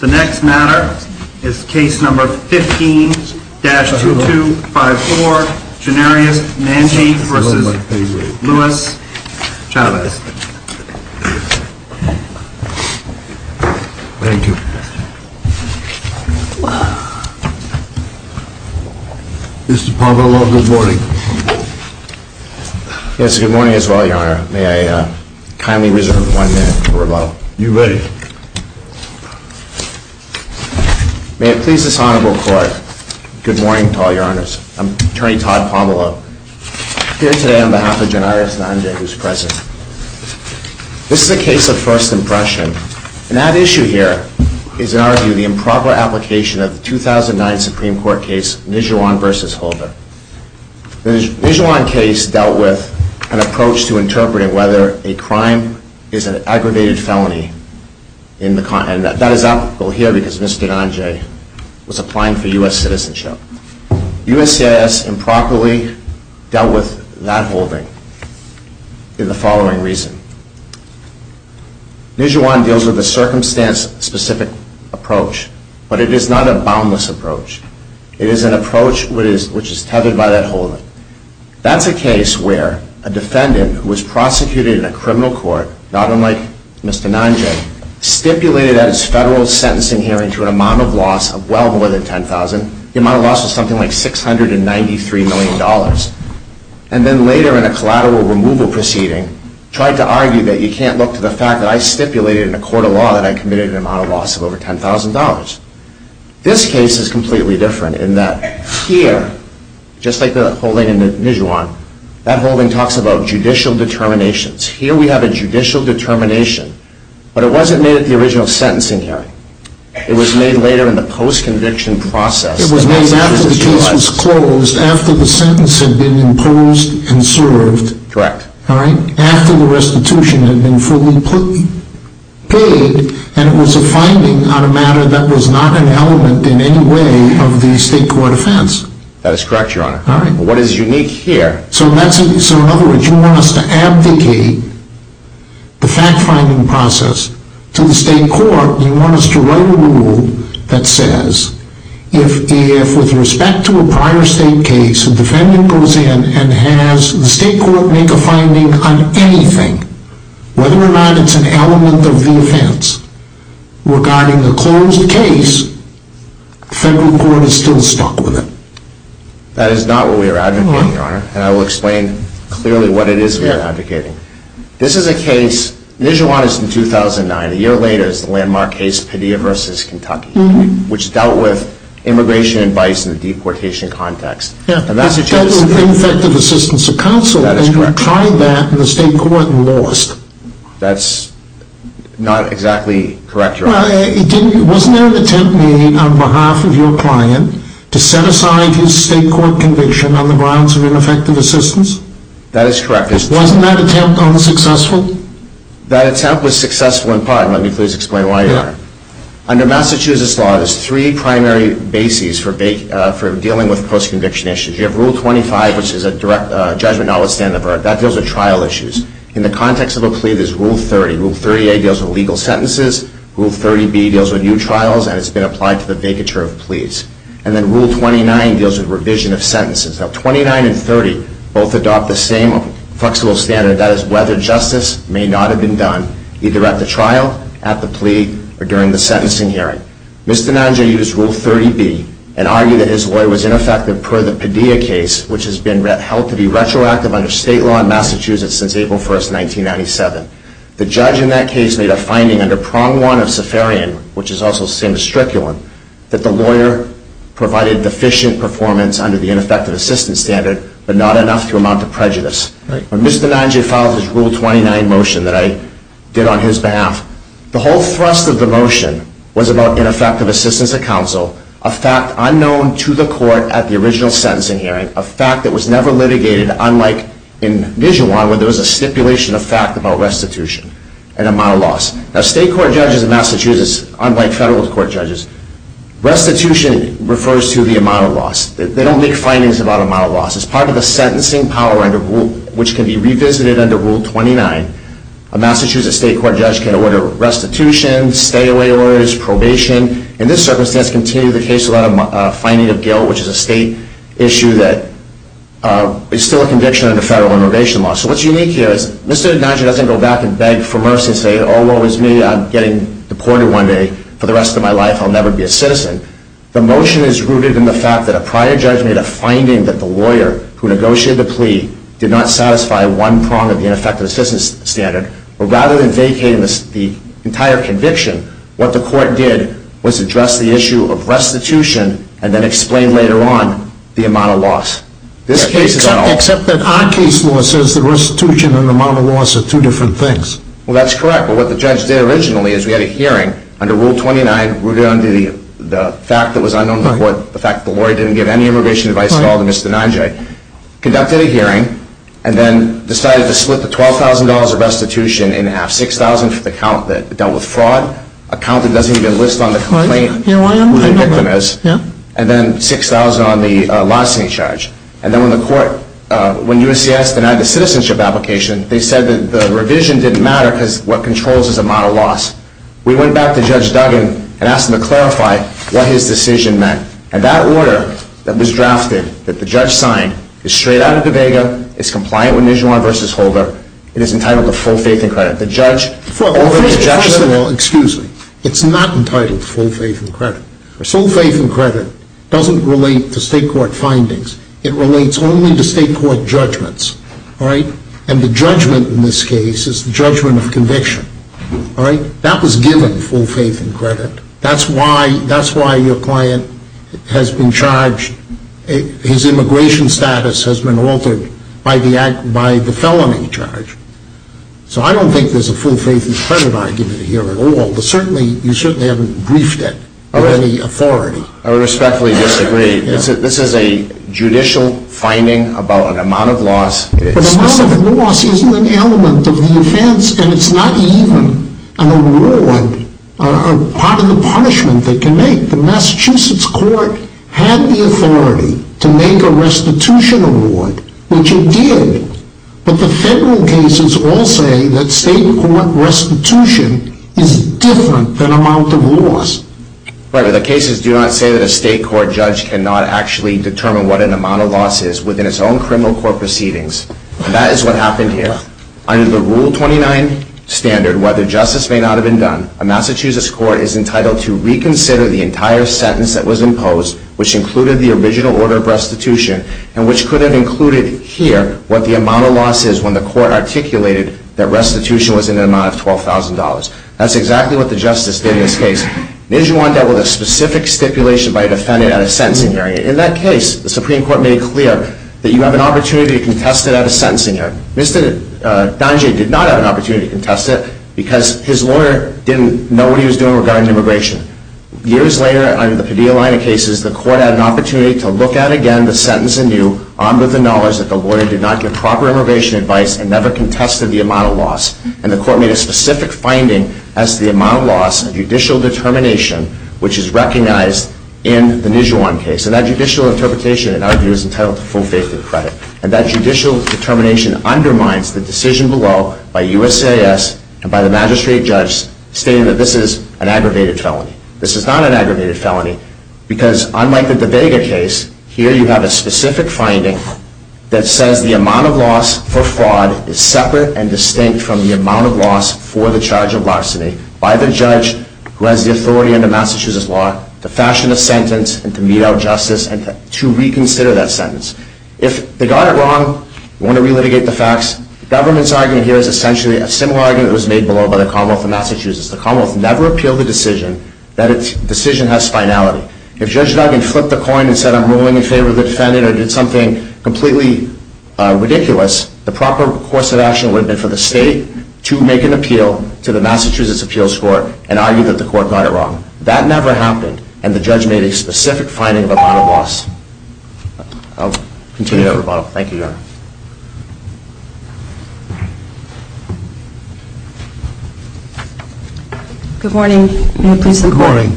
The next matter is Case No. 15-2254, Janarius Manje v. Louis Chaves. Thank you. Mr. Pavlov, good morning. Yes, good morning as well, Your Honor. May I kindly reserve one minute for rebuttal? You may. May it please this Honorable Court, good morning to all Your Honors. I'm Attorney Todd Pavlov, here today on behalf of Janarius Manje, who's present. This is a case of first impression, and that issue here is, in our view, the improper application of the 2009 Supreme Court case Nijuan v. Holder. The Nijuan case dealt with an approach to interpreting whether a crime is an aggravated felony, and that is applicable here because Mr. Manje was applying for U.S. citizenship. USCIS improperly dealt with that holding in the following reason. Nijuan deals with a circumstance-specific approach, but it is not a boundless approach. It is an approach which is tethered by that holding. That's a case where a defendant who was prosecuted in a criminal court, not unlike Mr. Manje, stipulated at his federal sentencing hearing to an amount of loss of well more than $10,000. The amount of loss was something like $693 million. And then later in a collateral removal proceeding, tried to argue that you can't look to the fact that I stipulated in a court of law that I committed an amount of loss of over $10,000. This case is completely different in that here, just like the holding in Nijuan, that holding talks about judicial determinations. Here we have a judicial determination, but it wasn't made at the original sentencing hearing. It was made later in the post-conviction process. It was made after the case was closed, after the sentence had been imposed and served. Correct. After the restitution had been fully paid, and it was a finding on a matter that was not an element in any way of the state court offense. That is correct, Your Honor. What is unique here... In other words, you want us to abdicate the fact-finding process to the state court. You want us to write a rule that says, if with respect to a prior state case, a defendant goes in and has the state court make a finding on anything, whether or not it's an element of the offense, regarding the closed case, the federal court is still stuck with it. That is not what we are advocating, Your Honor. And I will explain clearly what it is we are advocating. This is a case, Nijuan is from 2009, a year later is the landmark case, Padilla v. Kentucky, which dealt with immigration advice in the deportation context. Yeah, it dealt with ineffective assistance of counsel. That is correct. And we tried that, and the state court lost. That's not exactly correct, Your Honor. Well, wasn't there an attempt made on behalf of your client to set aside his state court conviction on the grounds of ineffective assistance? That is correct. Was that attempt unsuccessful? That attempt was successful in part. Let me please explain why, Your Honor. Under Massachusetts law, there's three primary bases for dealing with post-conviction issues. You have Rule 25, which is a direct judgment notwithstanding the verdict. That deals with trial issues. In the context of a plea, there's Rule 30. Rule 30A deals with legal sentences. Rule 30B deals with new trials, and it's been applied to the vacatur of pleas. And then Rule 29 deals with revision of sentences. Now, 29 and 30 both adopt the same flexible standard, that is, whether justice may not have been done either at the trial, at the plea, or during the sentencing hearing. Mr. Nanja used Rule 30B and argued that his lawyer was ineffective per the Padilla case, which has been held to be retroactive under state law in Massachusetts since April 1, 1997. The judge in that case made a finding under Prong 1 of Safarian, which is also the same as Strickland, that the lawyer provided deficient performance under the ineffective assistance standard, but not enough to amount to prejudice. When Mr. Nanja filed his Rule 29 motion that I did on his behalf, the whole thrust of the motion was about ineffective assistance of counsel, a fact unknown to the court at the original sentencing hearing, a fact that was never litigated, unlike in Vision 1, where there was a stipulation of fact about restitution and amount of loss. Now, state court judges in Massachusetts, unlike federal court judges, restitution refers to the amount of loss. They don't make findings about amount of loss. As part of the sentencing power, which can be revisited under Rule 29, a Massachusetts state court judge can order restitution, stay-away orders, probation. In this circumstance, continue the case without a finding of guilt, which is a state issue that is still a conviction under federal innovation law. So what's unique here is Mr. Nanja doesn't go back and beg for mercy and say, oh, woe is me. I'm getting deported one day. For the rest of my life, I'll never be a citizen. The motion is rooted in the fact that a prior judge made a finding that the lawyer who negotiated the plea did not satisfy one prong of the ineffective assistance standard. But rather than vacating the entire conviction, what the court did was address the issue of restitution and then explain later on the amount of loss. Except that our case law says that restitution and amount of loss are two different things. Well, that's correct. But what the judge did originally is we had a hearing under Rule 29, rooted under the fact that was unknown to the court, the fact that the lawyer didn't give any immigration advice at all to Mr. Nanja. Conducted a hearing and then decided to split the $12,000 of restitution in half, $6,000 for the count that dealt with fraud, a count that doesn't even list on the complaint who the victim is, and then $6,000 on the licensing charge. And then when the court, when USCIS denied the citizenship application, they said that the revision didn't matter because what controls is the amount of loss. We went back to Judge Duggan and asked him to clarify what his decision meant. And that order that was drafted, that the judge signed, is straight out of the vega, is compliant with Nijuan v. Holder, it is entitled to full faith and credit. First of all, excuse me, it's not entitled to full faith and credit. Full faith and credit doesn't relate to state court findings. It relates only to state court judgments. And the judgment in this case is the judgment of conviction. That was given full faith and credit. That's why your client has been charged, his immigration status has been altered by the felony charge. So I don't think there's a full faith and credit argument here at all. You certainly haven't briefed it of any authority. I respectfully disagree. This is a judicial finding about an amount of loss. But the amount of loss isn't an element of the offense, and it's not even an award or part of the punishment they can make. The Massachusetts court had the authority to make a restitution award, which it did. But the federal cases all say that state court restitution is different than amount of loss. Right, but the cases do not say that a state court judge cannot actually determine what an amount of loss is within its own criminal court proceedings. And that is what happened here. Under the Rule 29 standard, whether justice may not have been done, a Massachusetts court is entitled to reconsider the entire sentence that was imposed, which included the original order of restitution, and which could have included here what the amount of loss is when the court articulated that restitution was in an amount of $12,000. That's exactly what the justice did in this case. Then you end up with a specific stipulation by a defendant at a sentencing hearing. In that case, the Supreme Court made it clear that you have an opportunity to contest it at a sentencing hearing. Mr. Dangier did not have an opportunity to contest it because his lawyer didn't know what he was doing regarding immigration. Years later, under the Padilla line of cases, the court had an opportunity to look at again the sentence anew, armed with the knowledge that the lawyer did not give proper immigration advice and never contested the amount of loss. And the court made a specific finding as to the amount of loss and judicial determination, which is recognized in the Nijuan case. And that judicial interpretation, in our view, is entitled to full faith and credit. And that judicial determination undermines the decision below by USAS and by the magistrate judge stating that this is an aggravated felony. This is not an aggravated felony because, unlike the DeVega case, here you have a specific finding that says the amount of loss for fraud is separate and distinct from the amount of loss for the charge of larceny by the judge who has the authority under Massachusetts law to fashion a sentence and to mete out justice and to reconsider that sentence. If they got it wrong, you want to relitigate the facts, the government's argument here is essentially a similar argument that was made below by the Commonwealth of Massachusetts. The Commonwealth never appealed the decision that its decision has finality. If Judge Duggan flipped a coin and said I'm ruling in favor of the defendant or did something completely ridiculous, the proper course of action would have been for the state to make an appeal to the Massachusetts Appeals Court and argue that the court got it wrong. That never happened, and the judge made a specific finding of the amount of loss. I'll continue that rebuttal. Thank you, Your Honor. Good morning. Good morning.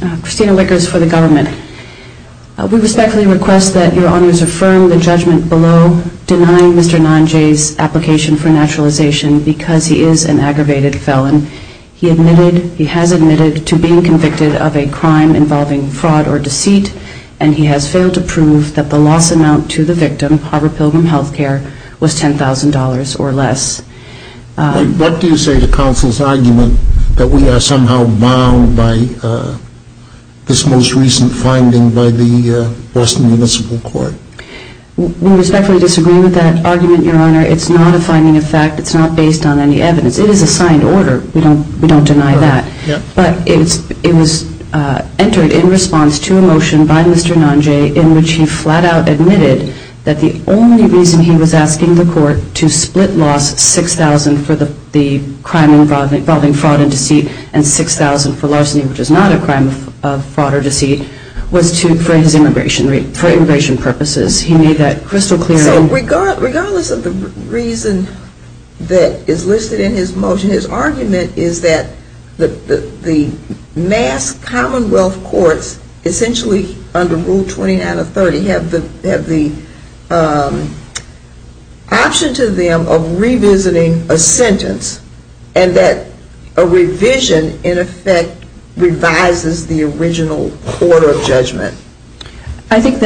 I have a question for the government. We respectfully request that Your Honors affirm the judgment below denying Mr. Nanje's application for naturalization because he is an aggravated felon. He has admitted to being convicted of a crime involving fraud or deceit, and he has failed to prove that the loss amount to the victim, Harvard Pilgrim Health Care, was $10,000 or less. What do you say to counsel's argument that we are somehow bound by this most recent finding by the Boston Municipal Court? We respectfully disagree with that argument, Your Honor. It's not a finding of fact. It's not based on any evidence. It is a signed order. We don't deny that. But it was entered in response to a motion by Mr. Nanje in which he flat out admitted that the only reason he was asking the court to split loss $6,000 for the crime involving fraud and deceit and $6,000 for larceny, which is not a crime of fraud or deceit, was for immigration purposes. He made that crystal clear. So regardless of the reason that is listed in his motion, his argument is that the mass commonwealth courts essentially under Rule 29 of 30 have the option to them of revisiting a sentence and that a revision in effect revises the original order of judgment. I believe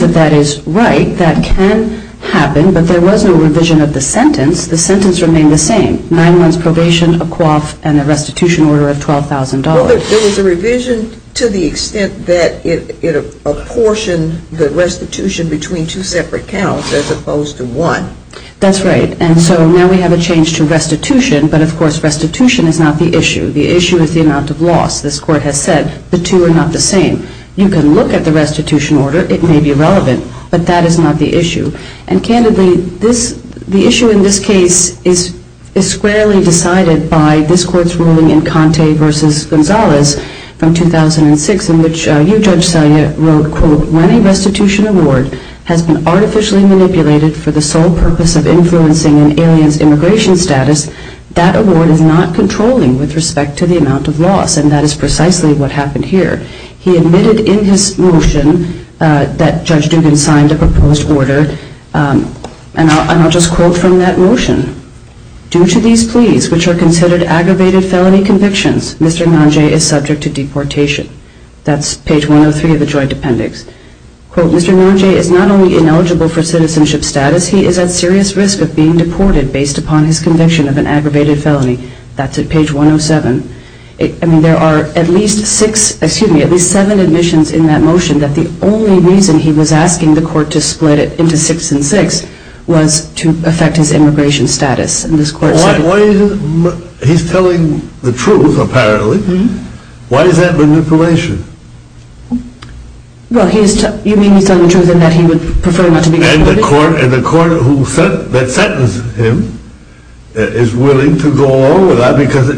that that is right. That can happen. But there was no revision of the sentence. The sentence remained the same. Nine months probation, a coif, and a restitution order of $12,000. Well, there was a revision to the extent that it apportioned the restitution between two separate counts as opposed to one. That's right. And so now we have a change to restitution, but of course restitution is not the issue. The issue is the amount of loss. This court has said the two are not the same. You can look at the restitution order. It may be relevant, but that is not the issue. And candidly, the issue in this case is squarely decided by this court's ruling in Conte v. Gonzalez from 2006 in which you, Judge Selye, wrote, quote, when a restitution award has been artificially manipulated for the sole purpose of influencing an alien's immigration status, that award is not controlling with respect to the amount of loss. And that is precisely what happened here. He admitted in his motion that Judge Dugan signed a proposed order. And I'll just quote from that motion. Due to these pleas, which are considered aggravated felony convictions, Mr. Nanjay is subject to deportation. That's page 103 of the joint appendix. Quote, Mr. Nanjay is not only ineligible for citizenship status, he is at serious risk of being deported based upon his conviction of an aggravated felony. That's at page 107. I mean, there are at least six, excuse me, at least seven admissions in that motion that the only reason he was asking the court to split it into six and six was to affect his immigration status. He's telling the truth, apparently. Why is that manipulation? Well, you mean he's telling the truth in that he would prefer not to be deported? And the court that sentenced him is willing to go along with that because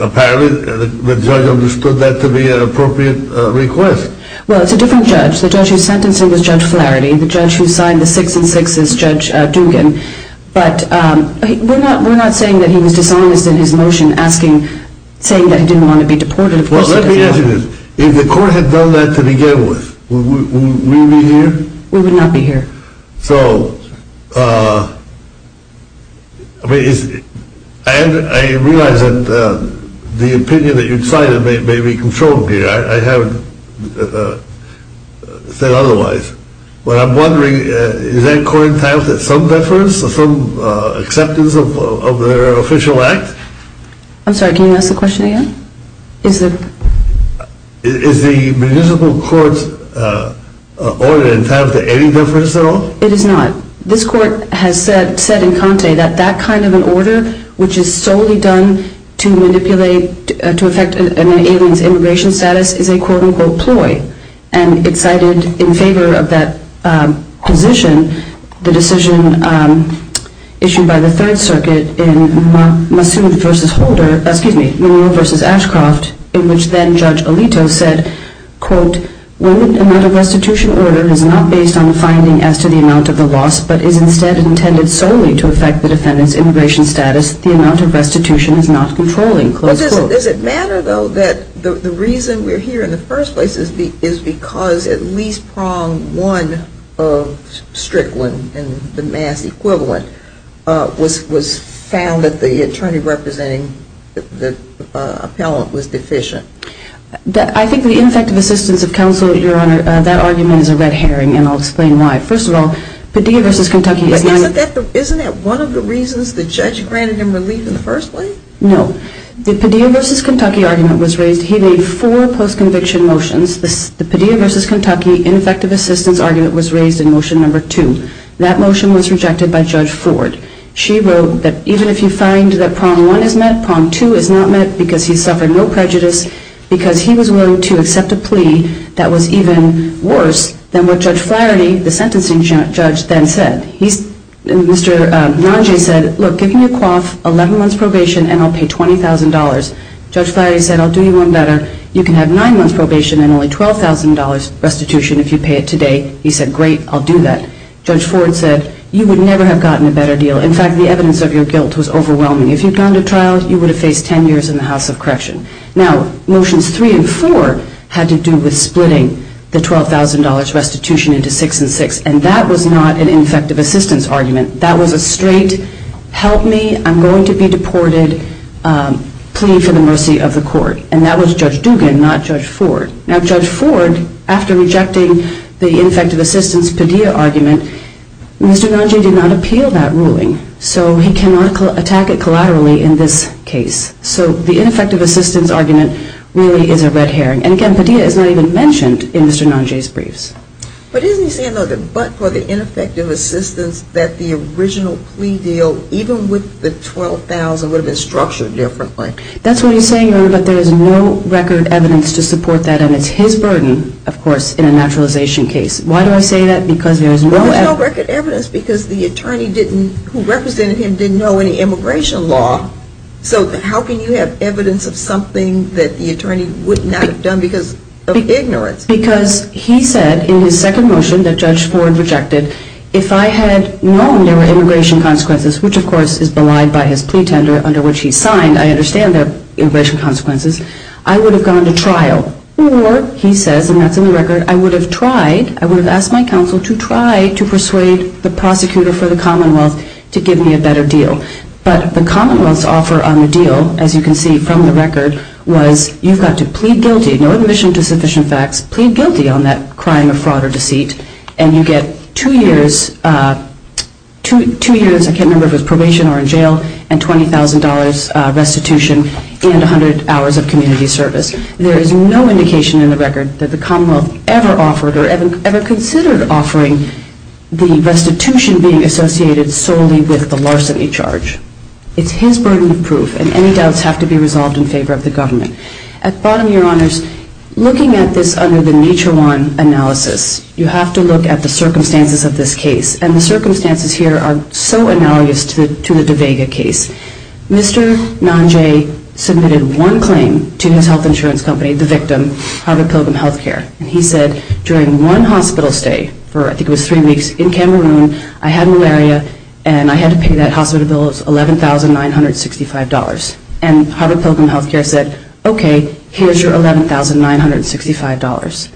apparently the judge understood that to be an appropriate request. Well, it's a different judge. The judge who's sentencing was Judge Flaherty. The judge who signed the six and six is Judge Dugan. But we're not saying that he was dishonest in his motion saying that he didn't want to be deported. Well, let me ask you this. If the court had done that to begin with, would we be here? We would not be here. So, I realize that the opinion that you've cited may be controlled here. I haven't said otherwise. I'm wondering, is that court entitled to some deference? Some acceptance of their official act? I'm sorry, can you ask the question again? Is the municipal court's order entitled to any deference at all? It is not. This court has said in Conte that that kind of an order which is solely done to manipulate, to affect an alien's immigration status is a, quote, unquote, ploy. And it's cited in favor of that position, the decision issued by the Third Circuit in Massoud v. Holder, excuse me, Monroe v. Ashcroft, in which then Judge Alito said, quote, when the restitution order is not based on the finding as to the amount of the loss, but is instead intended solely to affect the defendant's immigration status, the amount of restitution is not controlling, close quote. Does it matter, though, that the reason we're here in the first place is because at least prong one of Strickland and the Mass equivalent was found that the attorney representing the appellant was deficient? I think the ineffective assistance of counsel, Your Honor, that argument is a red herring, and I'll explain why. First of all, Padilla v. Kentucky is not... Isn't that one of the reasons the judge granted him relief in the first place? No. The Padilla v. Kentucky argument was raised... He made four post-conviction motions. The Padilla v. Kentucky ineffective assistance argument was raised in motion number two. That motion was rejected by Judge Ford. She wrote that even if you find that prong one is met, prong two is not met because he suffered no prejudice, because he was willing to accept a plea that was even worse than what Judge Flaherty, the sentencing judge, then said. He's... Mr. Nanje said, look, I've given you a quaff, 11 months probation, and I'll pay $20,000. Judge Flaherty said, I'll do you one better. You can have nine months probation and only $12,000 restitution if you pay it today. He said, great, I'll do that. Judge Ford said, you would never have gotten a better deal. In fact, the evidence of your guilt was overwhelming. If you'd gone to trial, you would have faced 10 years in the House of Correction. Now, motions three and four had to do with splitting the $12,000 restitution into six and six, and that was not an ineffective assistance argument. That was a straight, help me, I'm going to be deported, plea for the mercy of the court. And that was Judge Dugan, not Judge Ford. Now, Judge Ford, after rejecting the ineffective assistance Padilla argument, Mr. Nanje did not appeal that ruling, so he cannot attack it collaterally in this case. So the ineffective assistance argument really is a red herring. And again, Padilla is not even mentioned in Mr. Nanje's briefs. But isn't he saying, look, but for the ineffective assistance that the original plea deal, even with the $12,000, would have been structured differently? That's what he's saying, but there is no record evidence to support that, and it's his burden, of course, in a naturalization case. Why do I say that? Because there is no record evidence, because the attorney who represented him didn't know any immigration law. So how can you have evidence of something that the attorney would not have done because of ignorance? Because he said in his second motion that Judge Ford rejected, if I had known there were immigration consequences, which of course is belied by his plea tender under which he signed, I understand there are immigration consequences, I would have gone to trial. Or, he says, and that's in the record, I would have tried, I would have asked my counsel to try to persuade the prosecutor for the Commonwealth to give me a better deal. But the Commonwealth's offer on the deal, as you can see from the record, was you've got to plead guilty, no admission to sufficient facts, plead guilty on that crime of fraud or deceit, and you get two years, I can't remember if it was probation or in jail, and $20,000 restitution and 100 hours of community service. There is no indication in the record that the Commonwealth ever offered or ever considered offering the restitution being associated solely with the larceny charge. It's his burden of proof, and any doubts have to be resolved in favor of the government. At the bottom, Your Honors, looking at this under the circumstances, you have to look at the circumstances of this case, and the circumstances here are so analogous to the de Vega case. Mr. Nanjay submitted one claim to his health insurance company, the victim, Harvard Pilgrim Healthcare, and he said during one hospital stay, for I think it was three weeks, in Cameroon, I had malaria, and I had to pay that hospital bill of $11,965, and Harvard Pilgrim Healthcare said, okay, here's your $11,965.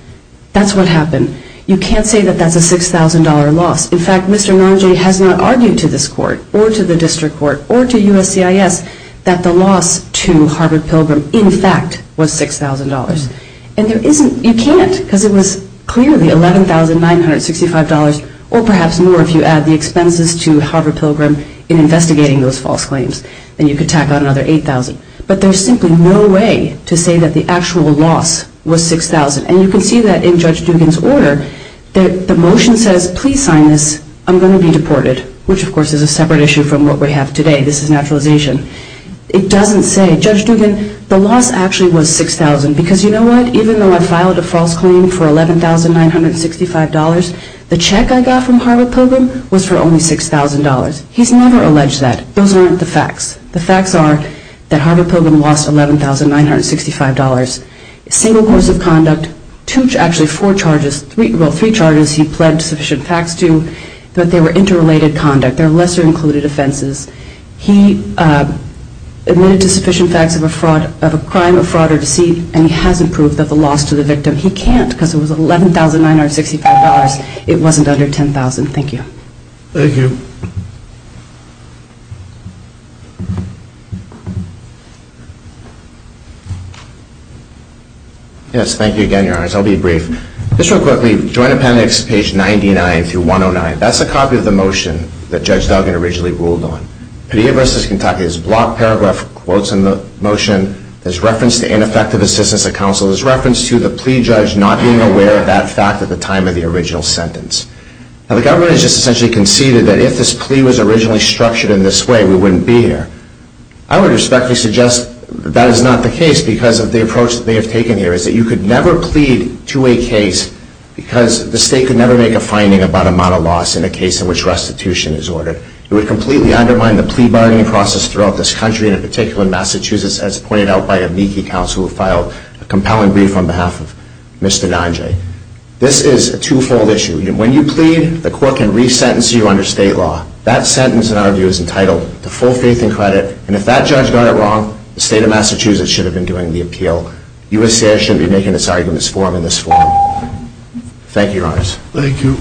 That's what happened. You can't say that that's a $6,000 loss. In fact, Mr. Nanjay has not argued to this court, or to the district court, or to USCIS, that the loss to Harvard Pilgrim, in fact, was $6,000. And there isn't, you can't, because it was clearly $11,965, or perhaps more if you add the expenses to Harvard Pilgrim in investigating those false claims, and you could tack on another $8,000. But there's simply no way to say that the actual loss was $6,000. And you can see that in Judge Dugan's order, the motion says, please sign this, I'm going to be deported, which of course is a separate issue from what we have today. This is naturalization. It doesn't say, Judge Dugan, the loss actually was $6,000, because you know what, even though I filed a false claim for $11,965, the check I got from Harvard Pilgrim was for only $6,000. He's never alleged that. Those aren't the facts. The facts are that Harvard Pilgrim lost $11,965. In the full course of conduct, actually four charges, well, three charges he pled sufficient facts to, but they were interrelated conduct. They're lesser included offenses. He admitted to sufficient facts of a crime, a fraud, or deceit, and he hasn't proved that the loss to the victim. He can't, because it was $11,965. It wasn't under $10,000. Thank you. Thank you. Yes, thank you again, Your Honors. I'll be brief. Just real quickly, Joint Appendix page 99 through 109, that's a copy of the motion that Judge Dugan originally ruled on. Padilla v. Kentucky. There's block paragraph quotes in the motion. There's reference to ineffective assistance of counsel. There's reference to the plea judge not being aware of that fact at the time of the original sentence. Now, the government has just essentially conceded that if this plea was originally structured in this way, we wouldn't be here. I would respectfully suggest that is not the case, because of the approach they have taken here, that you could never plead to a case because the state could never make a finding about amount of loss in a case in which restitution is ordered. It would completely undermine the plea bargaining process throughout this country, and in particular in Massachusetts, as pointed out by a Meeky counsel who filed a compelling brief on behalf of Mr. Nanjay. This is a twofold issue. When you plead, the court can resentence you under state law. That sentence, in our view, is entitled to full faith and credit, and if that judge got it wrong, he would be taken aside from this forum in this form. Thank you, Your Honors. Thank you.